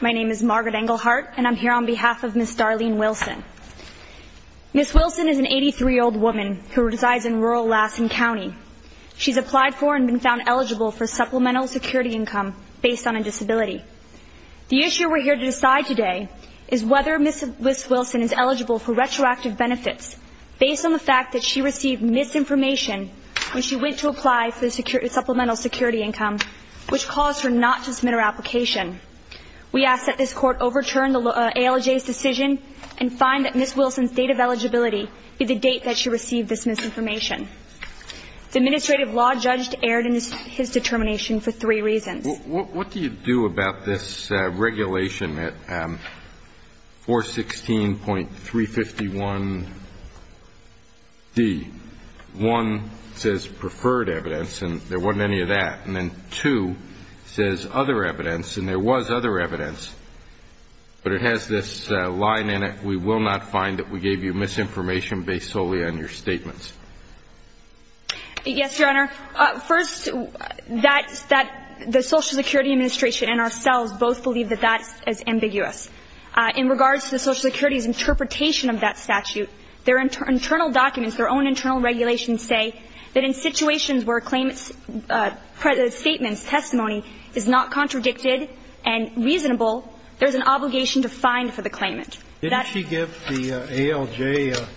My name is Margaret Englehart, and I'm here on behalf of Ms. Darlene Wilson. Ms. Wilson is an 83-year-old woman who resides in rural Lassen County. She's applied for and been found eligible for supplemental security income based on a disability. The issue we're here to decide today is whether Ms. Wilson is eligible for retroactive benefits based on the fact that she received misinformation when she went to apply for supplemental security income, which caused her not to submit her application. We ask that this Court overturn the ALJ's decision and find that Ms. Wilson's date of eligibility be the date that she received this misinformation. The administrative law judge erred in his determination for three reasons. What do you do about this regulation, 416.351D? One, it says preferred evidence, and there wasn't any of that. And then two, it says other evidence, and there was other evidence. But it has this line in it, we will not find that we gave you misinformation based solely on your statements. Yes, Your Honor. First, the Social Security Administration and ourselves both believe that that is ambiguous. In regards to the Social Security's interpretation of that statute, their internal documents, their own internal regulations say that in situations where a claimant's statements, testimony is not contradicted and reasonable, there's an obligation to find for the claimant. Didn't she give the ALJ a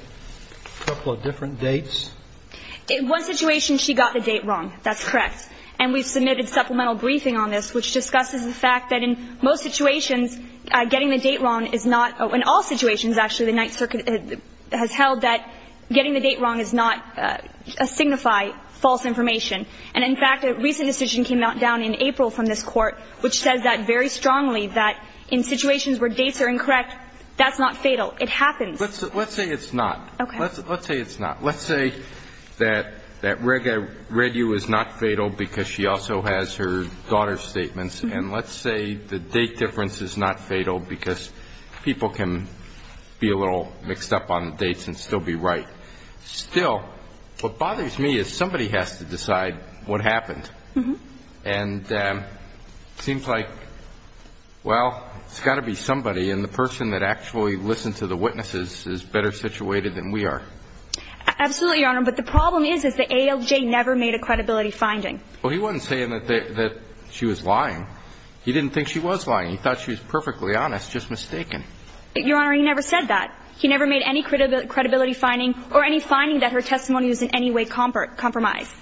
couple of different dates? In one situation, she got the date wrong. That's correct. And we've submitted supplemental briefing on this, which discusses the fact that in most situations, getting the date wrong is not, in all situations, actually, the Ninth Circuit has held that getting the date wrong does not signify false information. And in fact, a recent decision came down in April from this Court, which says that very strongly that in situations where dates are incorrect, that's not fatal. It happens. Let's say it's not. Okay. Let's say it's not. Let's say that Rega Redhugh is not fatal because she also has her daughter's statements, and let's say the date difference is not fatal because people can be a little mixed up on the dates and still be right. Still, what bothers me is somebody has to decide what happened. And it seems like, well, it's got to be somebody, and the person that actually listened to the witnesses is better situated than we are. Absolutely, Your Honor. But the problem is, is the ALJ never made a credibility finding. Well, he wasn't saying that she was lying. He didn't think she was lying. He thought she was perfectly honest, just mistaken. Your Honor, he never said that. He never made any credibility finding or any finding that her testimony was in any way compromised.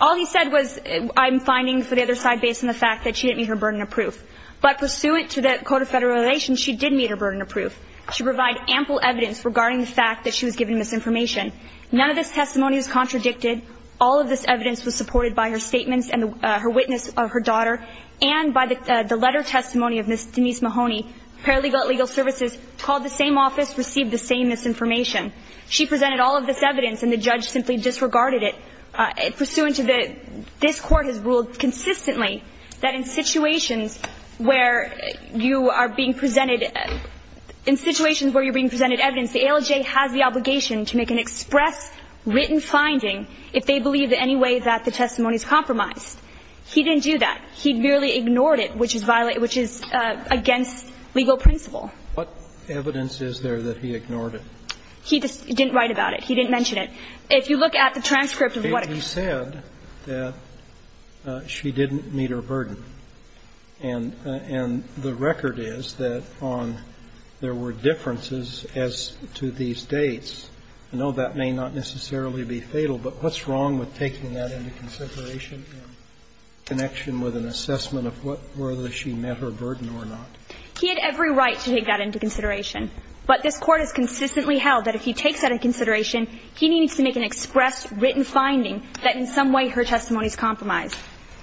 All he said was, I'm finding for the other side based on the fact that she didn't meet her burden of proof. But pursuant to the Code of Federal Relations, she did meet her burden of proof. She provided ample evidence regarding the fact that she was given misinformation. None of this testimony was contradicted. All of this evidence was supported by her statements and her witness, her daughter, and by the letter of testimony of Ms. Denise Mahoney. Paralegal at Legal Services called the same office, received the same misinformation. She presented all of this evidence, and the judge simply disregarded it. Pursuant to this, this Court has ruled consistently that in situations where you are being presented, in situations where you're being presented evidence, the ALJ has the obligation to make an express written finding if they believe in any way that the testimony is compromised. He didn't do that. He merely ignored it, which is against legal principle. What evidence is there that he ignored it? He didn't write about it. He didn't mention it. If you look at the transcript of what he said, that she didn't meet her burden. And the record is that on there were differences as to these dates. I know that may not necessarily be fatal, but what's wrong with taking that into consideration in connection with an assessment of whether she met her burden or not? He had every right to take that into consideration. But this Court has consistently held that if he takes that into consideration, he needs to make an express written finding that in some way her testimony is compromised.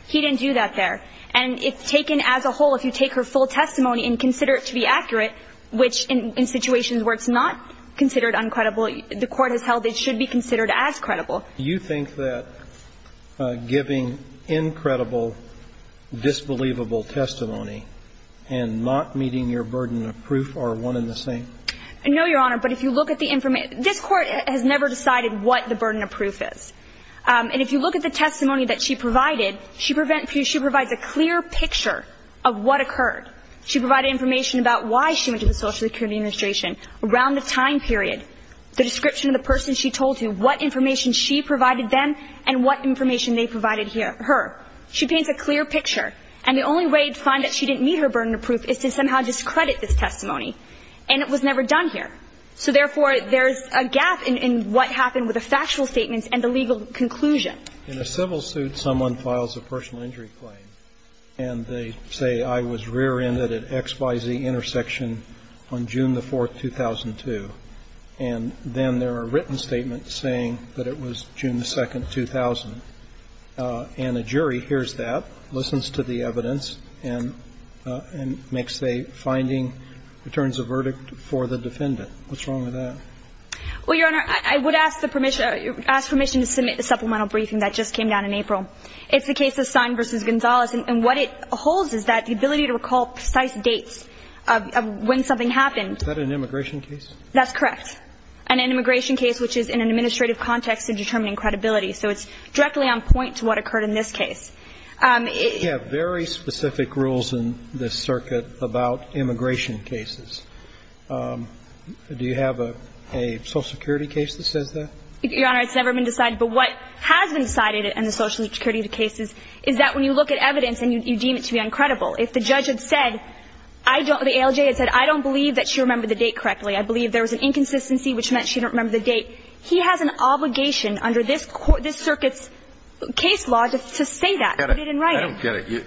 He didn't do that there. And it's taken as a whole. If you take her full testimony and consider it to be accurate, which in situations where it's not considered uncredible, the Court has held it should be considered as credible. Do you think that giving incredible, disbelievable testimony and not meeting your burden of proof are one and the same? No, Your Honor. But if you look at the information, this Court has never decided what the burden of proof is. And if you look at the testimony that she provided, she provides a clear picture of what occurred. She provided information about why she went to the Social Security Administration around the time period, the description of the person she told you, what information she provided them and what information they provided her. She paints a clear picture. And the only way to find that she didn't meet her burden of proof is to somehow discredit this testimony. And it was never done here. So, therefore, there's a gap in what happened with the factual statements and the legal conclusion. In a civil suit, someone files a personal injury claim. And they say, I was rear-ended at X, Y, Z intersection on June the 4th, 2002. And then there are written statements saying that it was June the 2nd, 2000. And the jury hears that, listens to the evidence, and makes a finding, returns a verdict for the defendant. What's wrong with that? Well, Your Honor, I would ask the permission to submit the supplemental briefing that just came down in April. It's the case of Stein v. Gonzalez. And what it holds is that the ability to recall precise dates of when something happened. Is that an immigration case? That's correct. And an immigration case which is in an administrative context and determining credibility. So it's directly on point to what occurred in this case. We have very specific rules in this circuit about immigration cases. Do you have a Social Security case that says that? Your Honor, it's never been decided. But what has been decided in the Social Security cases is that when you look at evidence and you deem it to be uncredible. If the judge had said, I don't – the ALJ had said, I don't believe that she remembered the date correctly. I believe there was an inconsistency which meant she didn't remember the date. He has an obligation under this circuit's case law to say that. He didn't write it. I don't get it.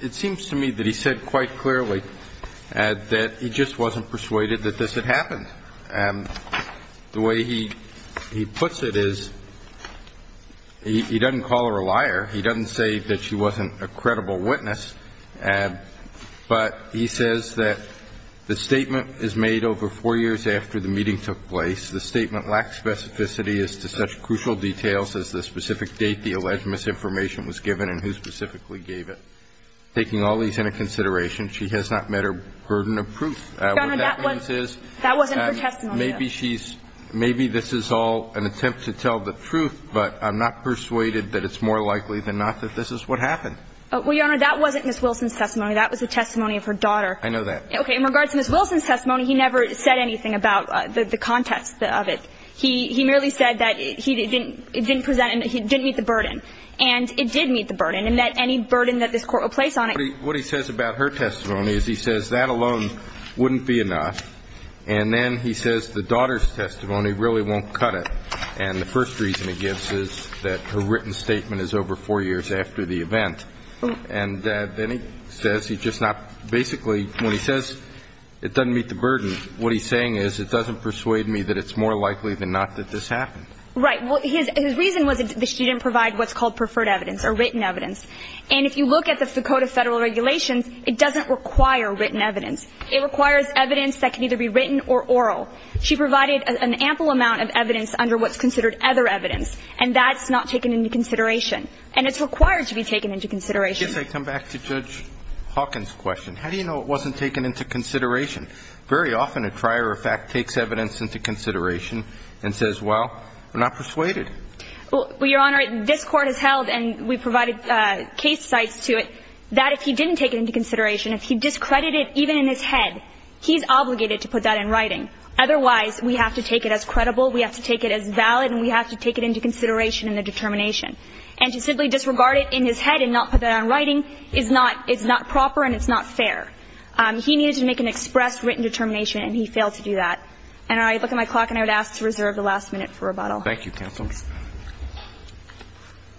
It seems to me that he said quite clearly that he just wasn't persuaded that this had happened. The way he puts it is he doesn't call her a liar. He doesn't say that she wasn't a credible witness. But he says that the statement is made over four years after the meeting took place. The statement lacks specificity as to such crucial details as the specific date the jury gave it. Taking all these into consideration, she has not met her burden of proof. Your Honor, that wasn't her testimony. Maybe she's – maybe this is all an attempt to tell the truth, but I'm not persuaded that it's more likely than not that this is what happened. Well, Your Honor, that wasn't Ms. Wilson's testimony. That was the testimony of her daughter. I know that. Okay. In regards to Ms. Wilson's testimony, he never said anything about the context of it. He merely said that he didn't – it didn't present – he didn't meet the burden. And it did meet the burden, and that any burden that this Court will place on it – What he says about her testimony is he says that alone wouldn't be enough. And then he says the daughter's testimony really won't cut it. And the first reason he gives is that her written statement is over four years after the event. And then he says he's just not – basically, when he says it doesn't meet the burden, what he's saying is it doesn't persuade me that it's more likely than not that this happened. Right. Well, his reason was that she didn't provide what's called preferred evidence or written evidence. And if you look at the code of Federal regulations, it doesn't require written evidence. It requires evidence that can either be written or oral. She provided an ample amount of evidence under what's considered other evidence, and that's not taken into consideration. And it's required to be taken into consideration. I guess I come back to Judge Hawkins' question. How do you know it wasn't taken into consideration? Very often, a trier of fact takes evidence into consideration and says, well, we're not persuaded. Well, Your Honor, this Court has held, and we've provided case sites to it, that if he didn't take it into consideration, if he discredited it even in his head, he's obligated to put that in writing. Otherwise, we have to take it as credible, we have to take it as valid, and we have to take it into consideration in the determination. And to simply disregard it in his head and not put that in writing is not – it's not proper and it's not fair. He needed to make an express written determination, and he failed to do that. And I look at my clock and I would ask to reserve the last minute for rebuttal. Thank you, counsel.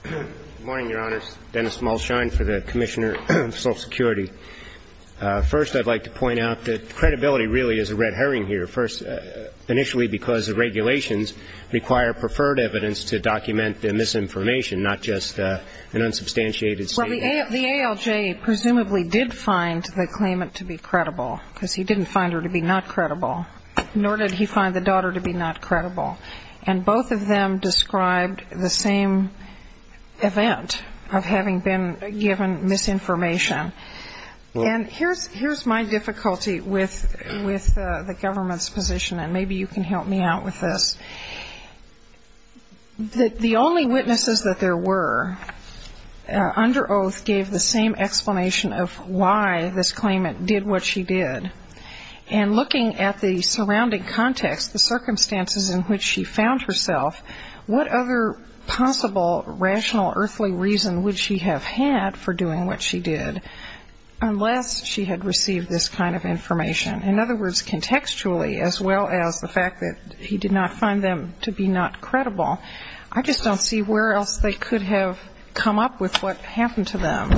Good morning, Your Honors. Dennis Malschein for the Commissioner of Social Security. First, I'd like to point out that credibility really is a red herring here. First, initially because the regulations require preferred evidence to document the misinformation, not just an unsubstantiated statement. Well, the ALJ presumably did find the claimant to be credible, because he didn't find her to be not credible, nor did he find the daughter to be not credible. And both of them described the same event of having been given misinformation. And here's my difficulty with the government's position, and maybe you can help me out with this. The only witnesses that there were under oath gave the same explanation of why this claimant did what she did. And looking at the surrounding context, the circumstances in which she found herself, what other possible rational, earthly reason would she have had for doing what she did, unless she had received this kind of information? In other words, contextually, as well as the fact that he did not find them to be not credible, I just don't see where else they could have come up with what happened to them.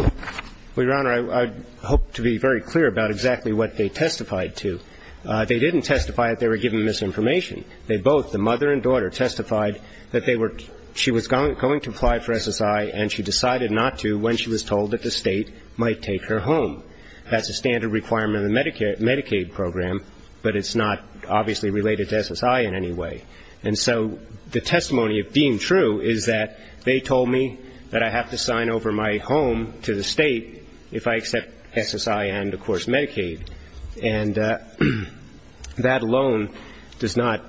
Well, Your Honor, I hope to be very clear about exactly what they testified to. They didn't testify that they were given misinformation. They both, the mother and daughter, testified that she was going to apply for SSI, and she decided not to when she was told that the State might take her home. That's a standard requirement of the Medicaid program, but it's not obviously related to SSI in any way. And so the testimony of being true is that they told me that I have to sign over my home to the State if I accept SSI and, of course, Medicaid. And that alone does not,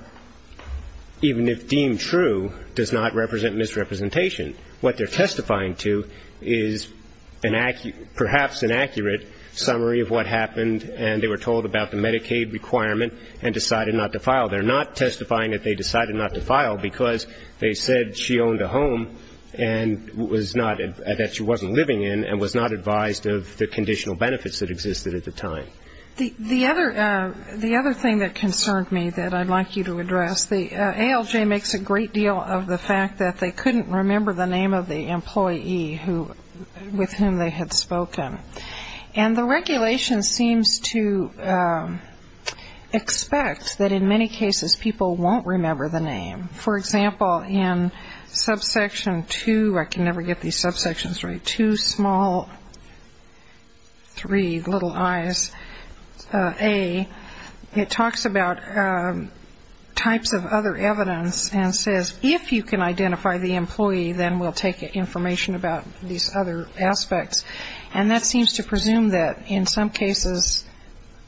even if deemed true, does not represent misrepresentation. What they're testifying to is perhaps an accurate summary of what happened, and they were told about the Medicaid requirement and decided not to file. They're not testifying that they decided not to file because they said she owned a home that they were living in and was not advised of the conditional benefits that existed at the time. The other thing that concerned me that I'd like you to address, the ALJ makes a great deal of the fact that they couldn't remember the name of the employee with whom they had spoken. And the regulation seems to expect that in many cases people won't remember the name. For example, in subsection 2, I can never get these subsections right, 2, small, 3, little i's, A, it talks about types of other evidence and says, if you can identify the employee, then we'll take information about these other aspects. And that seems to presume that in some cases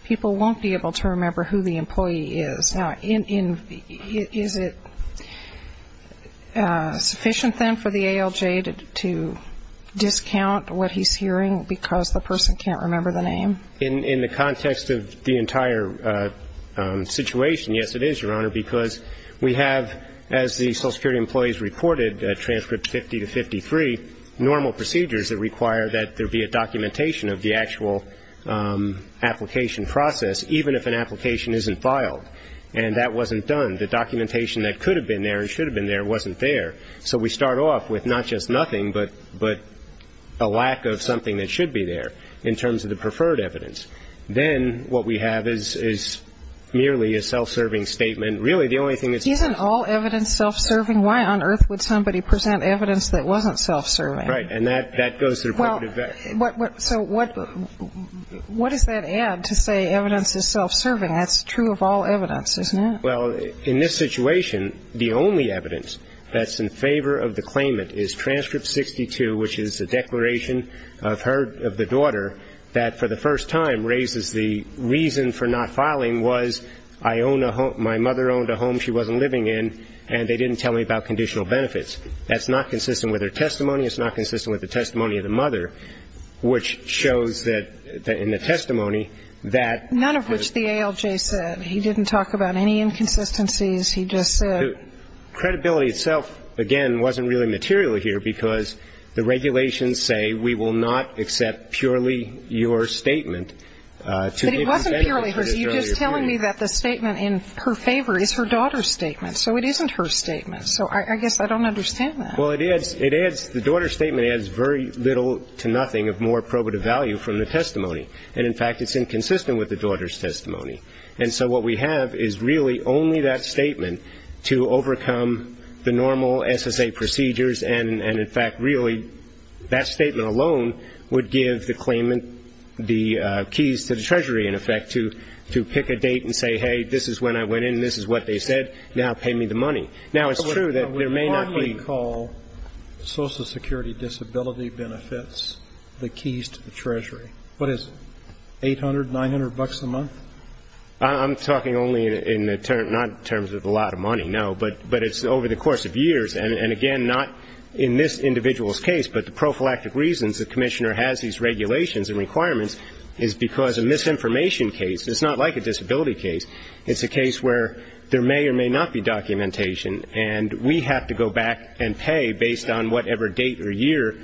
people won't be able to remember who the employee is. Now, is it sufficient, then, for the ALJ to discount what he's hearing because the person can't remember the name? In the context of the entire situation, yes, it is, Your Honor, because we have, as the Social Security employees reported, transcript 50 to 53, normal procedures that require that there be a documentation of the actual application process, even if an application isn't filed, and that wasn't done. The documentation that could have been there and should have been there wasn't there. So we start off with not just nothing, but a lack of something that should be there in terms of the preferred evidence. Then what we have is merely a self-serving statement. Really, the only thing that's needed is self-serving. Isn't all evidence self-serving? Why on earth would somebody present evidence that wasn't self-serving? Right. And that goes to the deputant. So what does that add to say evidence is self-serving? That's true of all evidence, isn't it? Well, in this situation, the only evidence that's in favor of the claimant is transcript 62, which is a declaration of her, of the daughter, that for the first time raises the reason for not filing was I own a home, my mother owned a home she wasn't living in, and they didn't tell me about conditional benefits. That's not consistent with her testimony. It's not consistent with the testimony of the mother, which shows that in the testimony that the. None of which the ALJ said. He didn't talk about any inconsistencies. He just said. Credibility itself, again, wasn't really material here because the regulations say we will not accept purely your statement. But it wasn't purely hers. You're just telling me that the statement in her favor is her daughter's statement. So it isn't her statement. So I guess I don't understand that. Well, it adds. It adds. The daughter's statement adds very little to nothing of more probative value from the testimony. And, in fact, it's inconsistent with the daughter's testimony. And so what we have is really only that statement to overcome the normal SSA procedures and, in fact, really that statement alone would give the claimant the keys to the treasury, in effect, to pick a date and say, hey, this is when I went in, this is what they said, now pay me the money. Now, it's true that there may not be. But what do you call social security disability benefits, the keys to the treasury? What is it, 800, 900 bucks a month? I'm talking only in the terms of not a lot of money, no. But it's over the course of years. And, again, not in this individual's case. But the prophylactic reasons the Commissioner has these regulations and requirements is because a misinformation case, it's not like a disability case, it's a case where there may or may not be documentation. And we have to go back and pay based on whatever date or year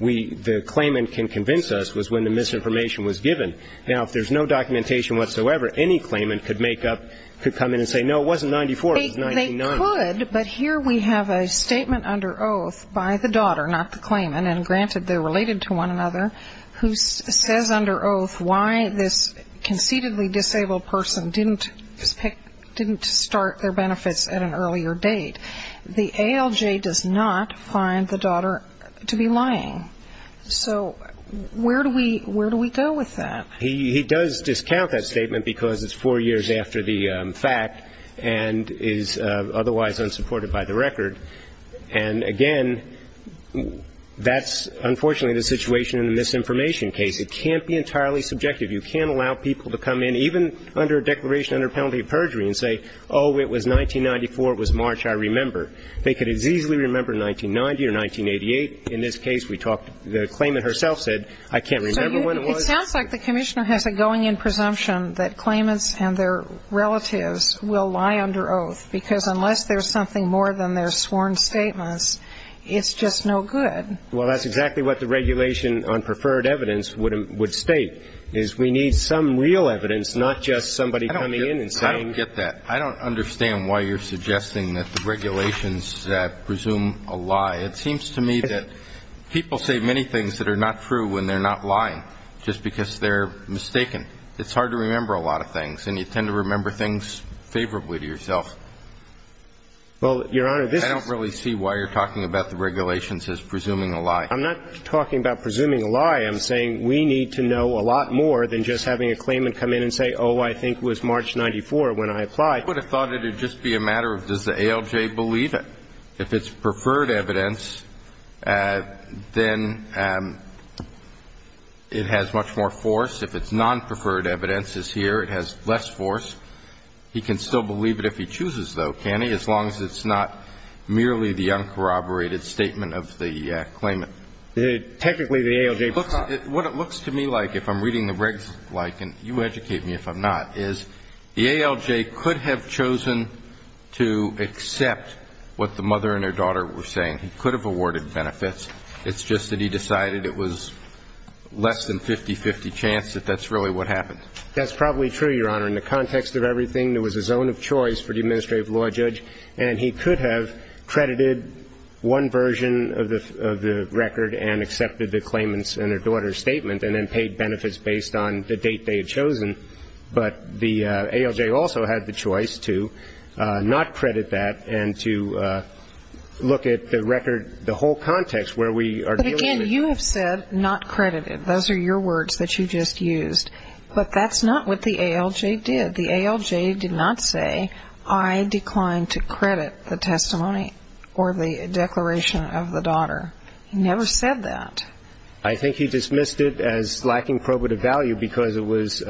the claimant can convince us was when the misinformation was given. Now, if there's no documentation whatsoever, any claimant could make up, could come in and say, no, it wasn't 94, it was 99. They could, but here we have a statement under oath by the daughter, not the claimant, and, granted, they're related to one another, who says under oath why this conceitedly start their benefits at an earlier date. The ALJ does not find the daughter to be lying. So where do we go with that? He does discount that statement because it's four years after the fact and is otherwise unsupported by the record. And, again, that's unfortunately the situation in the misinformation case. It can't be entirely subjective. You can't allow people to come in, even under a declaration under penalty of perjury, and say, oh, it was 1994, it was March, I remember. They could as easily remember 1990 or 1988. In this case, we talked, the claimant herself said, I can't remember when it was. So it sounds like the commissioner has a going-in presumption that claimants and their relatives will lie under oath because unless there's something more than their sworn statements, it's just no good. Well, that's exactly what the regulation on preferred evidence would state, is we need some real evidence, not just somebody coming in and saying. I don't get that. I don't understand why you're suggesting that the regulations presume a lie. It seems to me that people say many things that are not true when they're not lying, just because they're mistaken. It's hard to remember a lot of things, and you tend to remember things favorably to yourself. Well, Your Honor, this is. I don't really see why you're talking about the regulations as presuming a lie. I'm not talking about presuming a lie. I'm saying we need to know a lot more than just having a claimant come in and say, oh, I think it was March 94 when I applied. I would have thought it would just be a matter of does the ALJ believe it. If it's preferred evidence, then it has much more force. If it's non-preferred evidence, it's here, it has less force. He can still believe it if he chooses, though, can he? As long as it's not merely the uncorroborated statement of the claimant. Technically, the ALJ. What it looks to me like, if I'm reading the regs like, and you educate me if I'm not, is the ALJ could have chosen to accept what the mother and their daughter were saying. He could have awarded benefits. It's just that he decided it was less than 50-50 chance that that's really what happened. That's probably true, Your Honor. In the context of everything, there was a zone of choice for the administrative law judge, and he could have credited one version of the record and accepted the claimant's and their daughter's statement and then paid benefits based on the date they had chosen. But the ALJ also had the choice to not credit that and to look at the record, the whole context where we are dealing with it. But, again, you have said not credited. Those are your words that you just used. But that's not what the ALJ did. The ALJ did not say, I decline to credit the testimony or the declaration of the daughter. He never said that. I think he dismissed it as lacking probative value because it was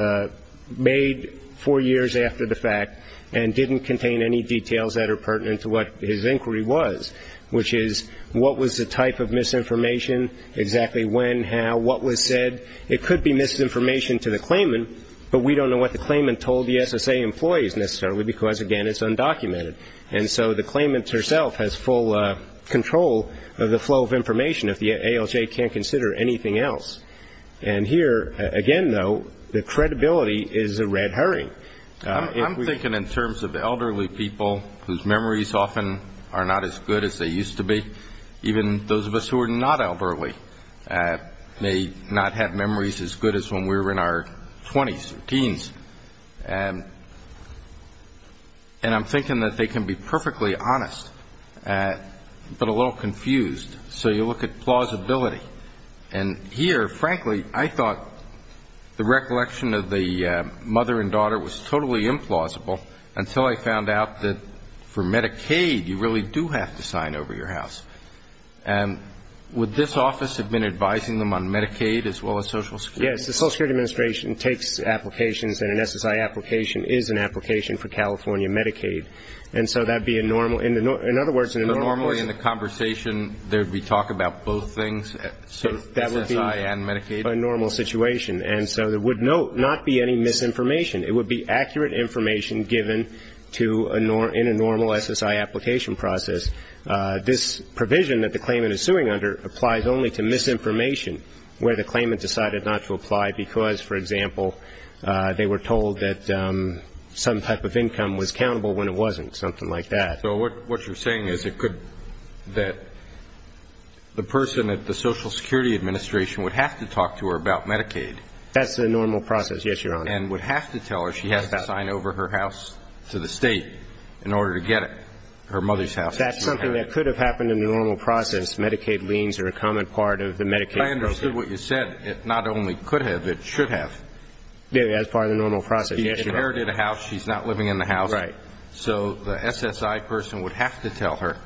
made four years after the fact and didn't contain any details that are pertinent to what his inquiry was, which is what was the type of misinformation, exactly when, how, what was said. It could be misinformation to the claimant, but we don't know what the claimant told the SSA employees necessarily because, again, it's undocumented. And so the claimant herself has full control of the flow of information if the ALJ can't consider anything else. And here, again, though, the credibility is a red herring. I'm thinking in terms of elderly people whose memories often are not as good as they used to be, even those of us who are not elderly may not have memories as good as when we were in our 20s or teens. And I'm thinking that they can be perfectly honest, but a little confused. So you look at plausibility. And here, frankly, I thought the recollection of the mother and daughter was totally implausible until I found out that for Medicaid you really do have to sign over your house. And would this office have been advising them on Medicaid as well as Social Security? Yes, the Social Security Administration takes applications, and an SSI application is an application for California Medicaid. And so that would be a normal ñ in other words, in a normal ñ So normally in the conversation there would be talk about both things, SSI and Medicaid? That would be a normal situation. And so there would not be any misinformation. It would be accurate information given to a ñ in a normal SSI application process. This provision that the claimant is suing under applies only to misinformation where the claimant decided not to apply because, for example, they were told that some type of income was countable when it wasn't, something like that. So what you're saying is it could ñ that the person at the Social Security Administration would have to talk to her about Medicaid. That's the normal process, yes, Your Honor. And would have to tell her she has to sign over her house to the State in order to get it, her mother's house. That's something that could have happened in the normal process. Medicaid liens are a common part of the Medicaid process. But I understood what you said. It not only could have, it should have. Yes, as part of the normal process, yes, Your Honor. She inherited a house. She's not living in the house. Right. So the SSI person would have to tell her,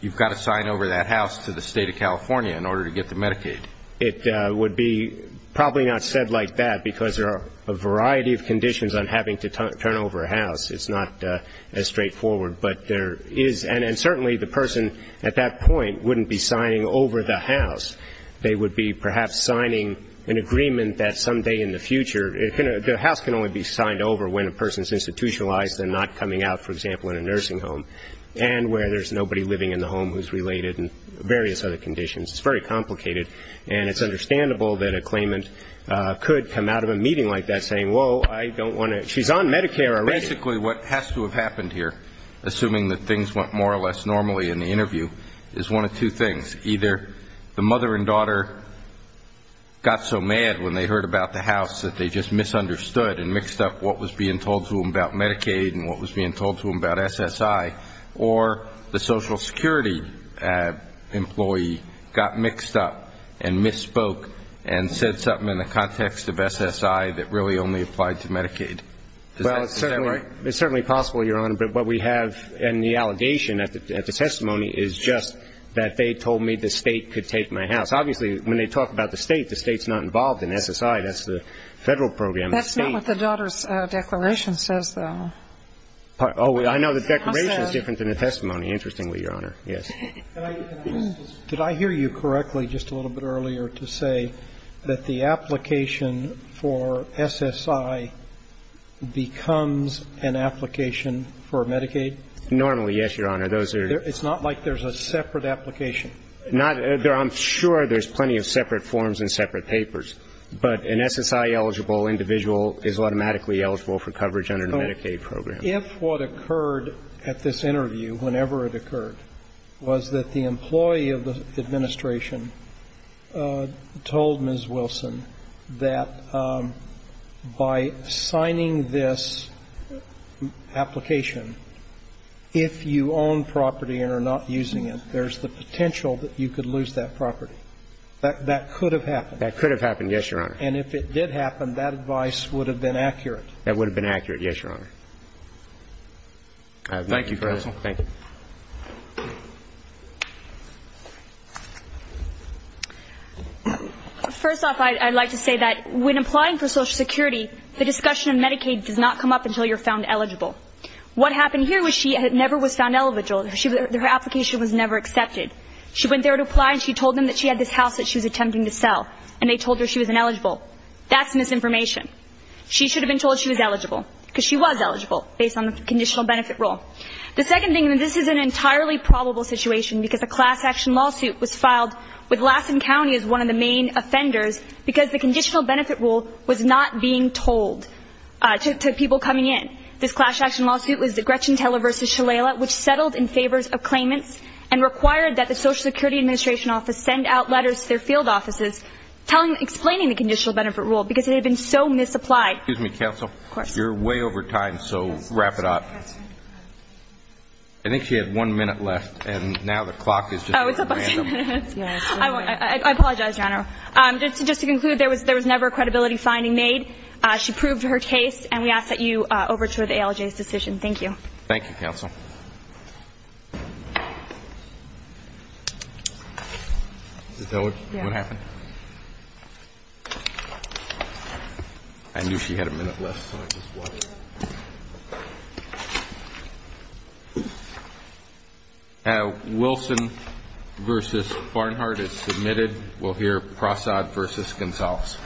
you've got to sign over that house to the State of California in order to get the Medicaid. It would be probably not said like that because there are a variety of conditions on having to turn over a house. It's not as straightforward. But there is ñ and certainly the person at that point wouldn't be signing over the house. They would be perhaps signing an agreement that someday in the future ñ the house can only be signed over when a person's institutionalized and not coming out, for example, in a nursing home, and where there's nobody living in the home who's related and various other conditions. It's very complicated. And it's understandable that a claimant could come out of a meeting like that saying, whoa, I don't want to ñ she's on Medicare already. Basically what has to have happened here, assuming that things went more or less normally in the interview, is one of two things. Either the mother and daughter got so mad when they heard about the house that they just misunderstood and mixed up what was being told to them about Medicaid and what was being told to them about SSI, or the Social Security employee got mixed up and misspoke and said something in the context of SSI that really only applied to Medicaid. Is that right? Well, it's certainly possible, Your Honor. But what we have in the allegation at the testimony is just that they told me the State could take my house. Obviously, when they talk about the State, the State's not involved in SSI. That's the Federal program. That's not what the daughter's declaration says, though. Oh, I know the declaration is different than the testimony, interestingly, Your Honor. Yes. Did I hear you correctly just a little bit earlier to say that the application for SSI becomes an application for Medicaid? Normally, yes, Your Honor. Those are ñ It's not like there's a separate application. Not ñ I'm sure there's plenty of separate forms and separate papers. But an SSI-eligible individual is automatically eligible for coverage under the Medicaid program. If what occurred at this interview, whenever it occurred, was that the employee of the administration told Ms. Wilson that by signing this application, if you own property and are not using it, there's the potential that you could lose that property, that could have happened? That could have happened, yes, Your Honor. And if it did happen, that advice would have been accurate? That would have been accurate, yes, Your Honor. Thank you, counsel. Thank you. First off, I'd like to say that when applying for Social Security, the discussion of Medicaid does not come up until you're found eligible. What happened here was she never was found eligible. Her application was never accepted. She went there to apply, and she told them that she had this house that she was attempting to sell. And they told her she was ineligible. That's misinformation. She should have been told she was eligible, because she was eligible, based on the conditional benefit rule. The second thing, and this is an entirely probable situation, because a class action lawsuit was filed with Lassen County as one of the main offenders, because the conditional benefit rule was not being told to people coming in. This class action lawsuit was the Gretchen Teller v. Shalala, which settled in favors of claimants and required that the Social Security Administration office send out letters to their field offices explaining the conditional benefit rule, because it had been so misapplied. Excuse me, Counsel. Of course. You're way over time, so wrap it up. I think she had one minute left, and now the clock is just running random. Oh, it's up. I apologize, Your Honor. Just to conclude, there was never a credibility finding made. She proved her case, and we ask that you overture the ALJ's decision. Thank you. Thank you, Counsel. Is that what happened? Yeah. I knew she had a minute left, so I just watched. Wilson v. Barnhart is submitted. We'll hear Prasad v. Gonzales. Thank you, Your Honor.